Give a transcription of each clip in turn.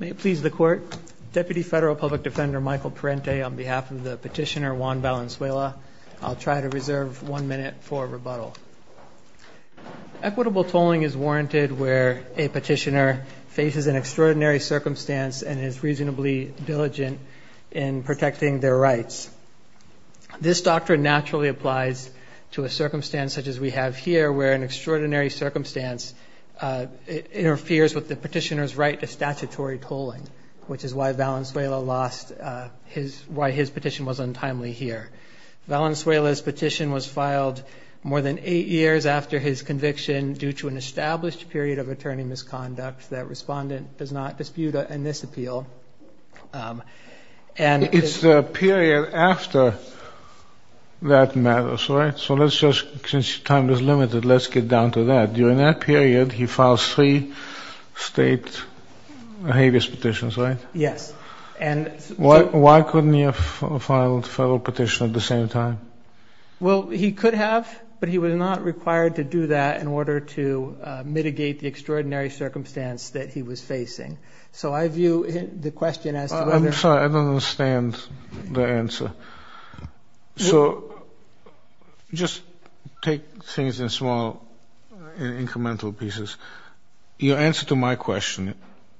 May it please the Court, Deputy Federal Public Defender Michael Parente on behalf of the Petitioner Juan Valenzuela. I'll try to reserve one minute for rebuttal. Equitable tolling is warranted where a petitioner faces an extraordinary circumstance and is reasonably diligent in protecting their rights. This doctrine naturally applies to a circumstance such as we have here, where an extraordinary circumstance interferes with the petitioner's right to statutory tolling, which is why Valenzuela lost his, why his petition was untimely here. Valenzuela's petition was filed more than eight years after his conviction due to an established period of attorney misconduct that Respondent does not dispute in this appeal. It's the period after that matters, right? So let's just, since your time is limited, let's get down to that. During that period he filed three state habeas petitions, right? Yes. Why couldn't he have filed a federal petition at the same time? Well, he could have, but he was not required to do that in order to mitigate the extraordinary circumstance that he was facing. So I view the question as to whether... I'm sorry, I don't understand the answer. So just take things in small incremental pieces. Your answer to my question,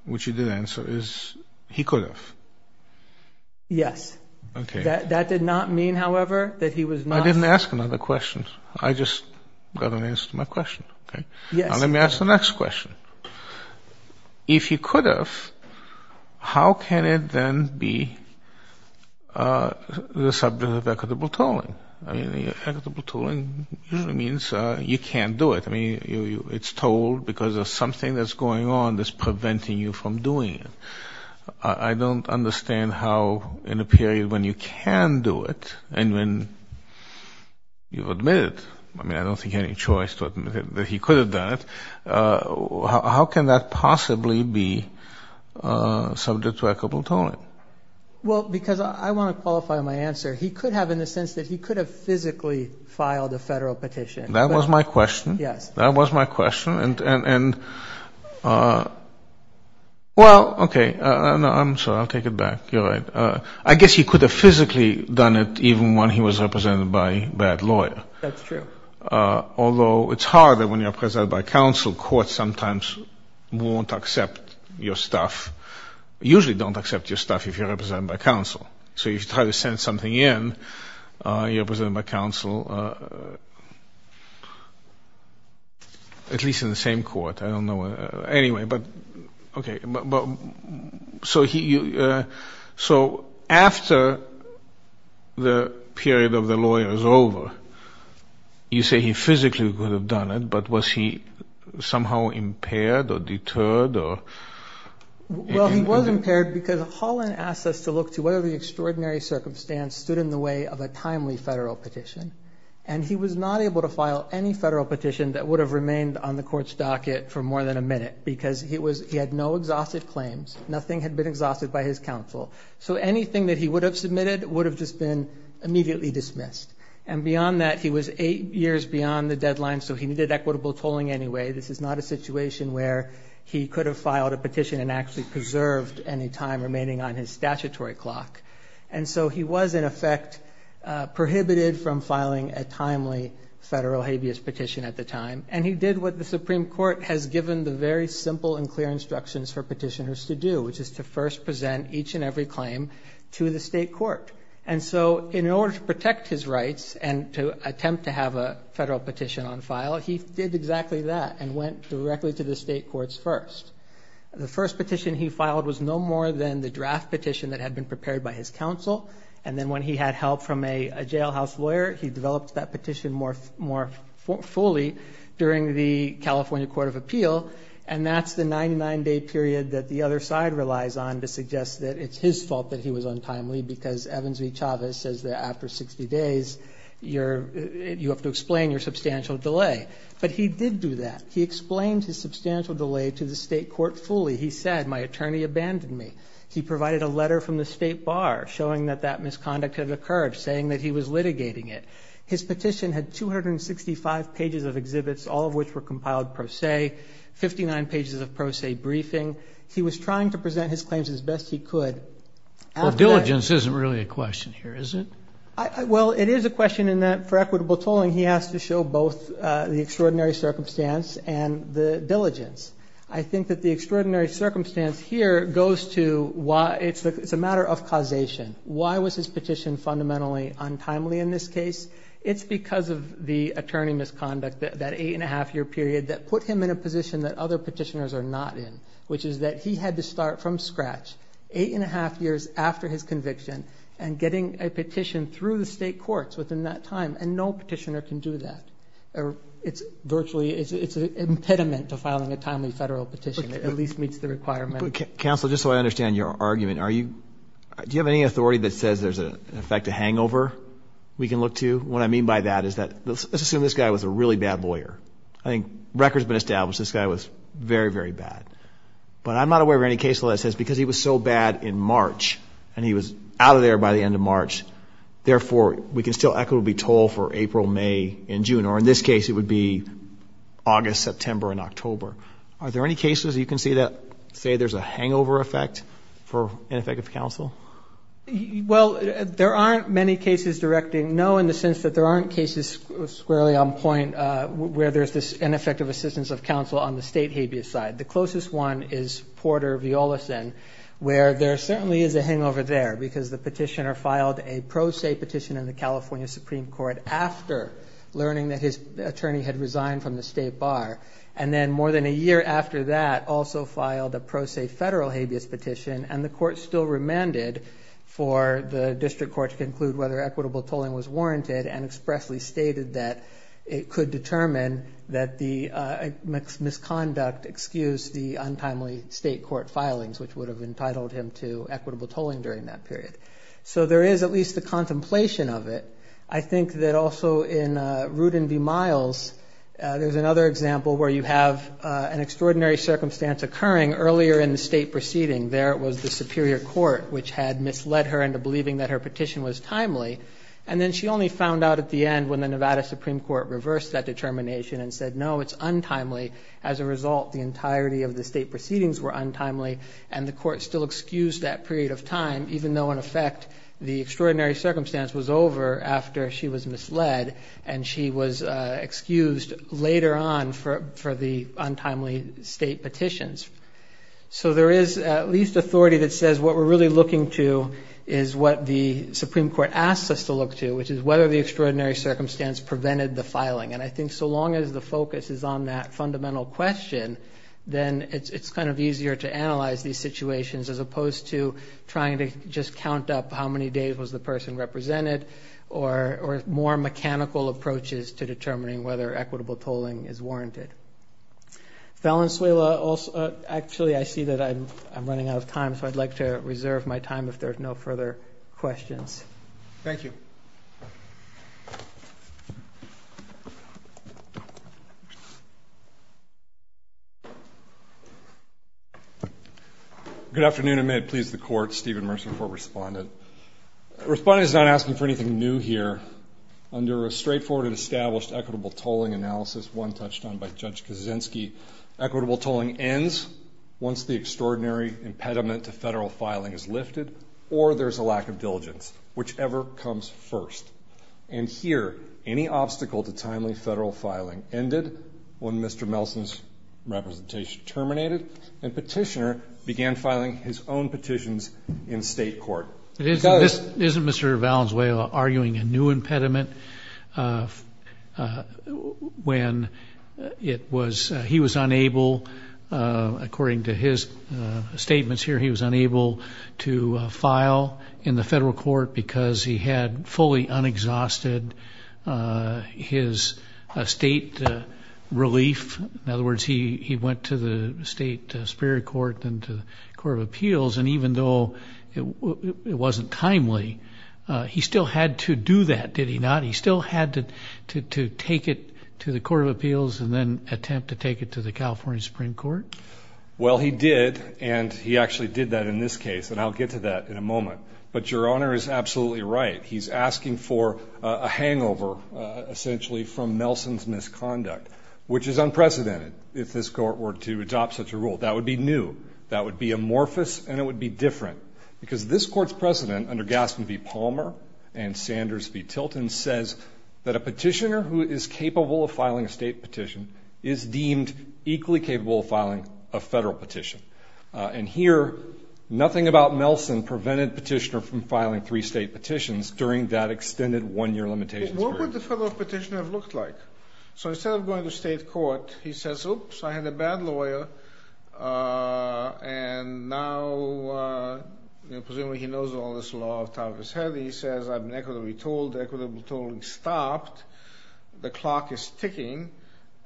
which you did answer, is he could have. Yes. Okay. That did not mean, however, that he was not... I didn't ask another question. I just got an answer to my question, okay? Yes. Well, let me ask the next question. If he could have, how can it then be the subject of equitable tolling? I mean, equitable tolling usually means you can't do it. I mean, it's tolled because there's something that's going on that's preventing you from doing it. I don't understand how in a period when you can do it and when you've admitted, I mean, I don't think you had any choice to admit that he could have done it, how can that possibly be subject to equitable tolling? Well, because I want to qualify my answer. He could have in the sense that he could have physically filed a Federal petition. That was my question. Yes. That was my question. And, well, okay. I'm sorry. I'll take it back. You're right. I guess he could have physically done it even when he was represented by that lawyer. That's true. Although it's hard when you're represented by counsel. Courts sometimes won't accept your stuff, usually don't accept your stuff if you're represented by counsel. So if you try to send something in, you're represented by counsel, at least in the same court. I don't know. Anyway, but, okay. So after the period of the lawyer is over, you say he physically could have done it, but was he somehow impaired or deterred or? Well, he was impaired because Holland asked us to look to whether the extraordinary circumstance stood in the way of a timely Federal petition, and he was not able to file any Federal petition that would have remained on the court's docket for more than a minute because he had no exhausted claims. Nothing had been exhausted by his counsel. So anything that he would have submitted would have just been immediately dismissed. And beyond that, he was eight years beyond the deadline, so he needed equitable tolling anyway. This is not a situation where he could have filed a petition and actually preserved any time remaining on his statutory clock. And so he was, in effect, prohibited from filing a timely Federal habeas petition at the time, and he did what the Supreme Court has given the very simple and clear instructions for petitioners to do, which is to first present each and every claim to the state court. And so in order to protect his rights and to attempt to have a Federal petition on file, he did exactly that and went directly to the state courts first. The first petition he filed was no more than the draft petition that had been prepared by his counsel, and then when he had help from a jailhouse lawyer, he developed that petition more fully during the California Court of Appeal, and that's the 99-day period that the other side relies on to suggest that it's his fault that he was untimely because Evans v. Chavez says that after 60 days, you have to explain your substantial delay. But he did do that. He explained his substantial delay to the state court fully. He said, my attorney abandoned me. He provided a letter from the state bar showing that that misconduct had occurred, saying that he was litigating it. His petition had 265 pages of exhibits, all of which were compiled pro se, 59 pages of pro se briefing. He was trying to present his claims as best he could. Well, diligence isn't really a question here, is it? Well, it is a question in that for equitable tolling, he has to show both the extraordinary circumstance and the diligence. I think that the extraordinary circumstance here goes to why it's a matter of causation. Why was his petition fundamentally untimely in this case? It's because of the attorney misconduct, that 8-1⁄2-year period that put him in a position that other petitioners are not in, which is that he had to start from scratch, 8-1⁄2 years after his conviction, and getting a petition through the state courts within that time, and no petitioner can do that. It's virtually, it's an impediment to filing a timely federal petition that at least meets the requirement. Counsel, just so I understand your argument, are you, do you have any authority that says there's, in effect, a hangover we can look to? What I mean by that is that, let's assume this guy was a really bad lawyer. I think record's been established, this guy was very, very bad. But I'm not aware of any case that says because he was so bad in March, and he was out of there by the end of March, therefore we can still equitably toll for April, May, and June. Or in this case, it would be August, September, and October. Are there any cases you can see that say there's a hangover effect for ineffective counsel? Well, there aren't many cases directing no in the sense that there aren't cases squarely on point where there's this ineffective assistance of counsel on the state habeas side. The closest one is Porter v. Olison, where there certainly is a hangover there, because the petitioner filed a pro se petition in the California Supreme Court after learning that his attorney had resigned from the state bar, and then more than a year after that also filed a pro se federal habeas petition, and the court still remanded for the district court to conclude whether equitable tolling was warranted and expressly stated that it could determine that the misconduct excused the untimely state court filings, which would have entitled him to equitable tolling during that period. So there is at least a contemplation of it. I think that also in Rudin v. Miles, there's another example where you have an extraordinary circumstance occurring earlier in the state proceeding. There was the superior court, which had misled her into believing that her petition was timely, and then she only found out at the end when the Nevada Supreme Court reversed that determination and said, no, it's untimely. As a result, the entirety of the state proceedings were untimely, and the court still excused that period of time, even though in effect the extraordinary circumstance was over after she was misled and she was excused later on for the untimely state petitions. So there is at least authority that says what we're really looking to is what the Supreme Court asks us to look to, which is whether the extraordinary circumstance prevented the filing. And I think so long as the focus is on that fundamental question, then it's kind of easier to analyze these situations as opposed to trying to just count up how many days was the person represented or more mechanical approaches to determining whether equitable tolling is warranted. Valenzuela, actually I see that I'm running out of time, so I'd like to reserve my time if there are no further questions. Thank you. Good afternoon, and may it please the Court, Stephen Mercer for Respondent. Respondent is not asking for anything new here. Under a straightforward and established equitable tolling analysis, one touched on by Judge Kaczynski, equitable tolling ends once the extraordinary impediment to federal filing is lifted or there's a lack of diligence, whichever comes first. And here, any obstacle to timely federal filing ended when Mr. Melson's representation terminated and Petitioner began filing his own petitions in state court. Isn't Mr. Valenzuela arguing a new impediment when he was unable, according to his statements here, he was unable to file in the federal court because he had fully unexhausted his state relief? In other words, he went to the state Superior Court and to the Court of Appeals, and even though it wasn't timely, he still had to do that, did he not? He still had to take it to the Court of Appeals and then attempt to take it to the California Supreme Court? Well, he did, and he actually did that in this case, and I'll get to that in a moment. But Your Honor is absolutely right. He's asking for a hangover, essentially, from Melson's misconduct, which is unprecedented if this Court were to adopt such a rule. That would be new, that would be amorphous, and it would be different because this Court's precedent under Gaston v. Palmer and Sanders v. Tilton says that a petitioner who is capable of filing a state petition is deemed equally capable of filing a federal petition. And here, nothing about Melson prevented Petitioner from filing three state petitions during that extended one-year limitation period. But what would the federal petitioner have looked like? So instead of going to state court, he says, Oops, I had a bad lawyer, and now presumably he knows all this law off the top of his head. He says, I've been equitably told, equitably told, and stopped. The clock is ticking,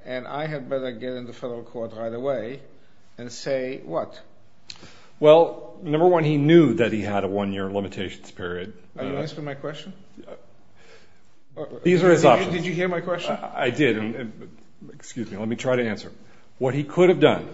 and I had better get into federal court right away and say what? Well, number one, he knew that he had a one-year limitations period. Are you answering my question? These are his options. Did you hear my question? I did. Excuse me. Let me try to answer. What he could have done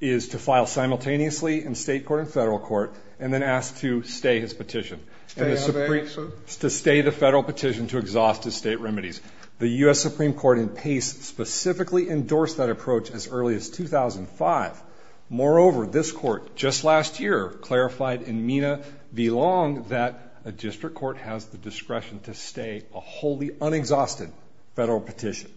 is to file simultaneously in state court and federal court and then ask to stay his petition. To stay the federal petition to exhaust his state remedies. The U.S. Supreme Court in Pace specifically endorsed that approach as early as 2005. Moreover, this Court just last year clarified in Mina v. Long that a district court has the discretion to stay a wholly unexhausted federal petition.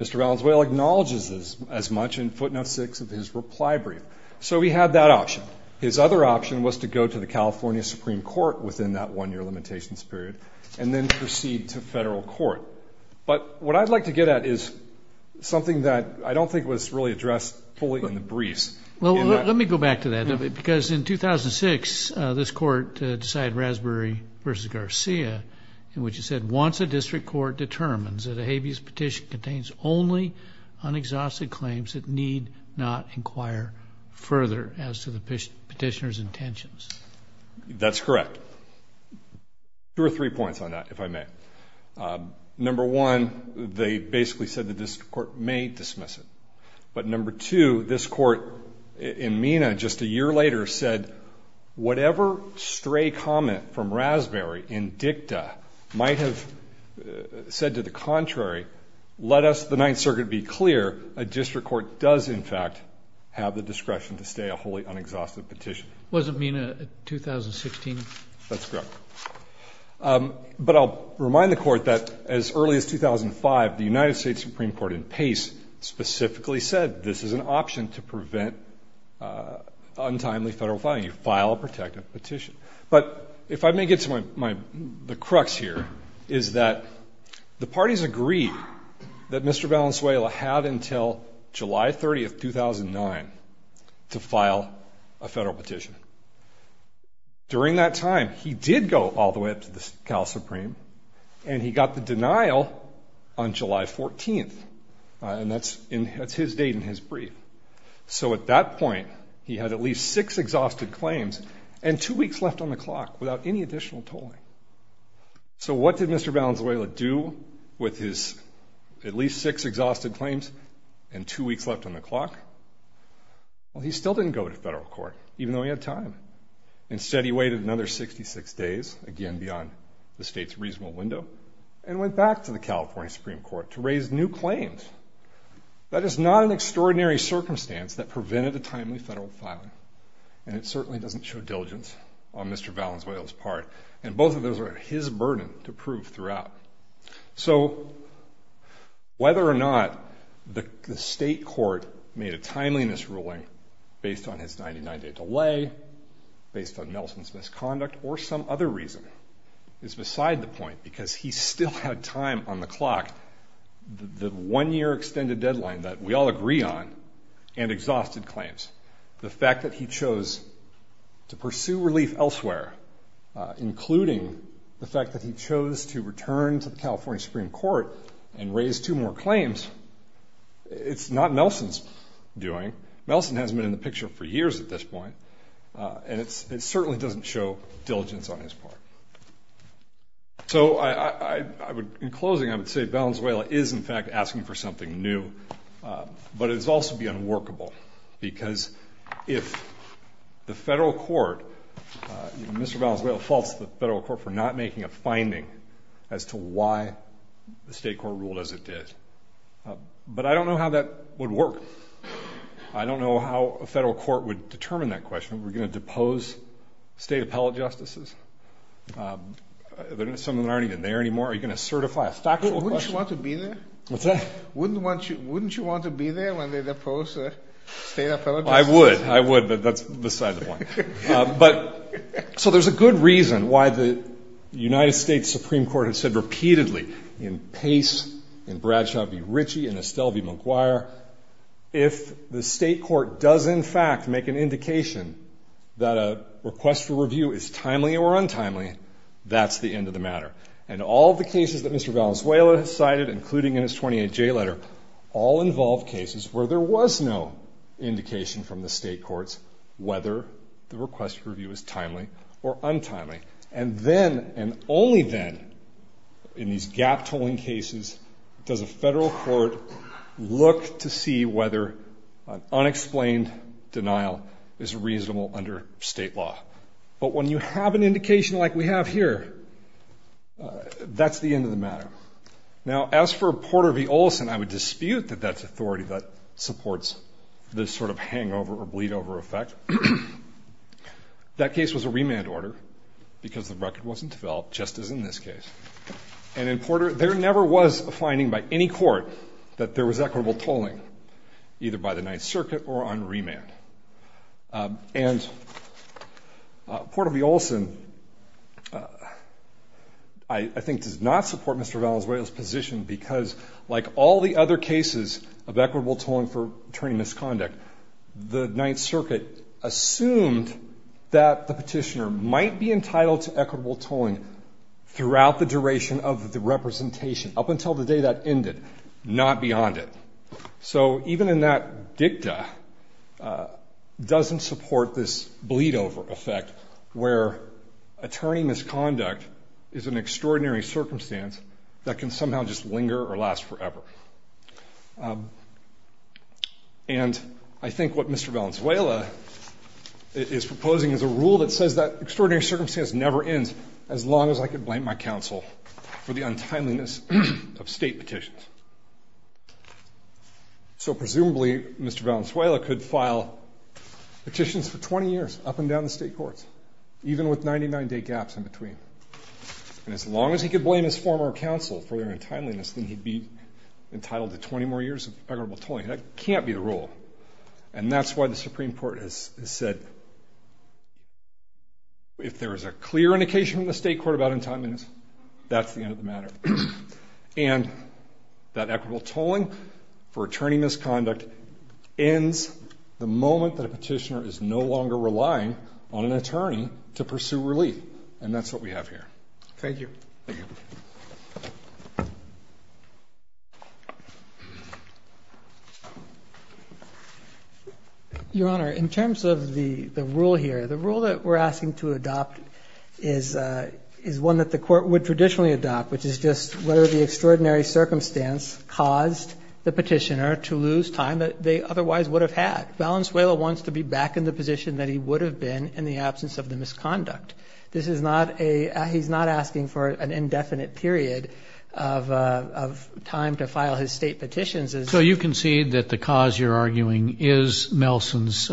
Mr. Valenzuela acknowledges this as much in footnote six of his reply brief. So he had that option. His other option was to go to the California Supreme Court within that one-year limitations period and then proceed to federal court. But what I'd like to get at is something that I don't think was really addressed fully in the briefs. Well, let me go back to that. Because in 2006, this Court decided Raspberry v. Garcia in which it said, once a district court determines that a habeas petition contains only unexhausted claims, it need not inquire further as to the petitioner's intentions. That's correct. Two or three points on that, if I may. Number one, they basically said the district court may dismiss it. But number two, this Court in Mina just a year later said, whatever stray comment from Raspberry in dicta might have said to the contrary, let us, the Ninth Circuit, be clear, a district court does in fact have the discretion to stay a wholly unexhausted petition. Wasn't Mina in 2016? That's correct. But I'll remind the Court that as early as 2005, the United States Supreme Court in Pace specifically said, this is an option to prevent untimely federal filing. You file a protective petition. But if I may get to the crux here, is that the parties agreed that Mr. Valenzuela had until July 30, 2009, to file a federal petition. During that time, he did go all the way up to the Cal Supreme, and he got the denial on July 14th. And that's his date and his brief. So at that point, he had at least six exhausted claims and two weeks left on the clock without any additional tolling. So what did Mr. Valenzuela do with his at least six exhausted claims and two weeks left on the clock? Well, he still didn't go to federal court, even though he had time. Instead, he waited another 66 days, again beyond the state's reasonable window, and went back to the California Supreme Court to raise new claims. That is not an extraordinary circumstance that prevented a timely federal filing. And it certainly doesn't show diligence on Mr. Valenzuela's part. And both of those are his burden to prove throughout. So whether or not the state court made a timeliness ruling based on his 99-day delay, based on Nelson's misconduct, or some other reason, is beside the point, because he still had time on the clock, the one-year extended deadline that we all agree on, and exhausted claims. The fact that he chose to pursue relief elsewhere, including the fact that he chose to return to the California Supreme Court and raise two more claims, it's not Nelson's doing. Nelson hasn't been in the picture for years at this point. And it certainly doesn't show diligence on his part. So in closing, I would say Valenzuela is, in fact, asking for something new. But it would also be unworkable, because if the federal court, Mr. Valenzuela faults the federal court for not making a finding as to why the state court ruled as it did. But I don't know how that would work. I don't know how a federal court would determine that question. Are we going to depose state appellate justices? Some of them aren't even there anymore. Are you going to certify a factual question? Wouldn't you want to be there? What's that? Wouldn't you want to be there when they depose state appellate justices? I would. I would, but that's beside the point. So there's a good reason why the United States Supreme Court has said repeatedly, in Pace, in Bradshaw v. Ritchie, in Estelle v. McGuire, if the state court does, in fact, make an indication that a request for review is timely or untimely, that's the end of the matter. And all of the cases that Mr. Valenzuela has cited, including in his 28J letter, all involve cases where there was no indication from the state courts whether the request for review is timely or untimely. And then, and only then, in these gap-tolling cases, does a federal court look to see whether an unexplained denial is reasonable under state law. But when you have an indication like we have here, that's the end of the matter. Now, as for Porter v. Olson, I would dispute that that's authority that supports this sort of hangover or bleed-over effect. That case was a remand order because the record wasn't developed, just as in this case. And in Porter, there never was a finding by any court that there was equitable tolling, either by the Ninth Circuit or on remand. And Porter v. Olson, I think, does not support Mr. Valenzuela's position because, like all the other cases of equitable tolling for attorney misconduct, the Ninth Circuit assumed that the petitioner might be entitled to equitable tolling throughout the duration of the representation, up until the day that ended, not beyond it. So even in that dicta, doesn't support this bleed-over effect where attorney misconduct is an extraordinary circumstance that can somehow just linger or last forever. And I think what Mr. Valenzuela is proposing is a rule that says that extraordinary circumstance never ends, as long as I could blame my counsel for the untimeliness of state petitions. So presumably, Mr. Valenzuela could file petitions for 20 years, up and down the state courts, even with 99-day gaps in between. And as long as he could blame his former counsel for their untimeliness, then he'd be entitled to 20 more years of equitable tolling. That can't be the rule. And that's why the Supreme Court has said, if there is a clear indication from the state court about untimeliness, that's the end of the matter. And that equitable tolling for attorney misconduct ends the moment that a petitioner is no longer relying on an attorney to pursue relief. And that's what we have here. Thank you. Thank you. Your Honor, in terms of the rule here, the rule that we're asking to adopt is one that the court would traditionally adopt, which is just whether the extraordinary circumstance caused the petitioner to lose time that they otherwise would have had. Valenzuela wants to be back in the position that he would have been in the absence of the misconduct. This is not a he's not asking for an indefinite period of time to file his state petitions. So you concede that the cause you're arguing is Nelson's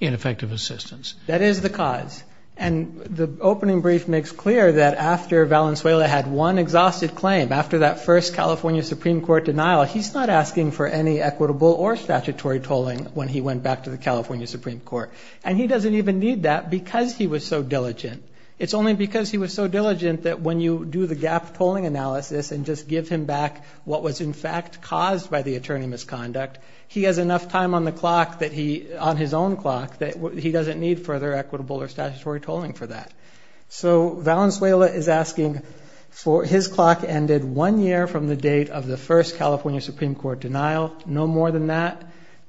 ineffective assistance. That is the cause. And the opening brief makes clear that after Valenzuela had one exhausted claim, after that first California Supreme Court denial, he's not asking for any equitable or statutory tolling when he went back to the California Supreme Court. And he doesn't even need that because he was so diligent. It's only because he was so diligent that when you do the gap tolling analysis and just give him back what was in fact caused by the attorney misconduct, he has enough time on the clock that he on his own clock that he doesn't need further equitable or statutory tolling for that. So Valenzuela is asking for his clock ended one year from the date of the first California Supreme Court denial. No more than that.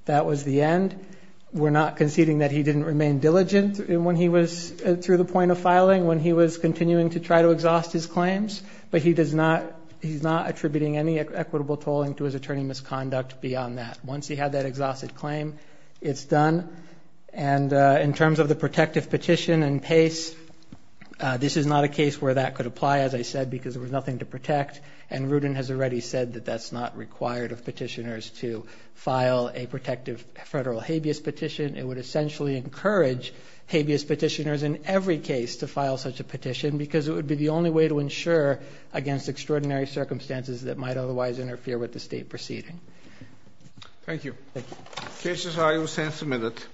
That was the end. We're not conceding that he didn't remain diligent when he was through the point of filing, when he was continuing to try to exhaust his claims. But he's not attributing any equitable tolling to his attorney misconduct beyond that. Once he had that exhausted claim, it's done. And in terms of the protective petition and pace, this is not a case where that could apply, as I said, because there was nothing to protect. And Rudin has already said that that's not required of petitioners to file a protective federal habeas petition. It would essentially encourage habeas petitioners in every case to file such a petition because it would be the only way to ensure against extraordinary circumstances that might otherwise interfere with the state proceeding. Thank you. Thank you.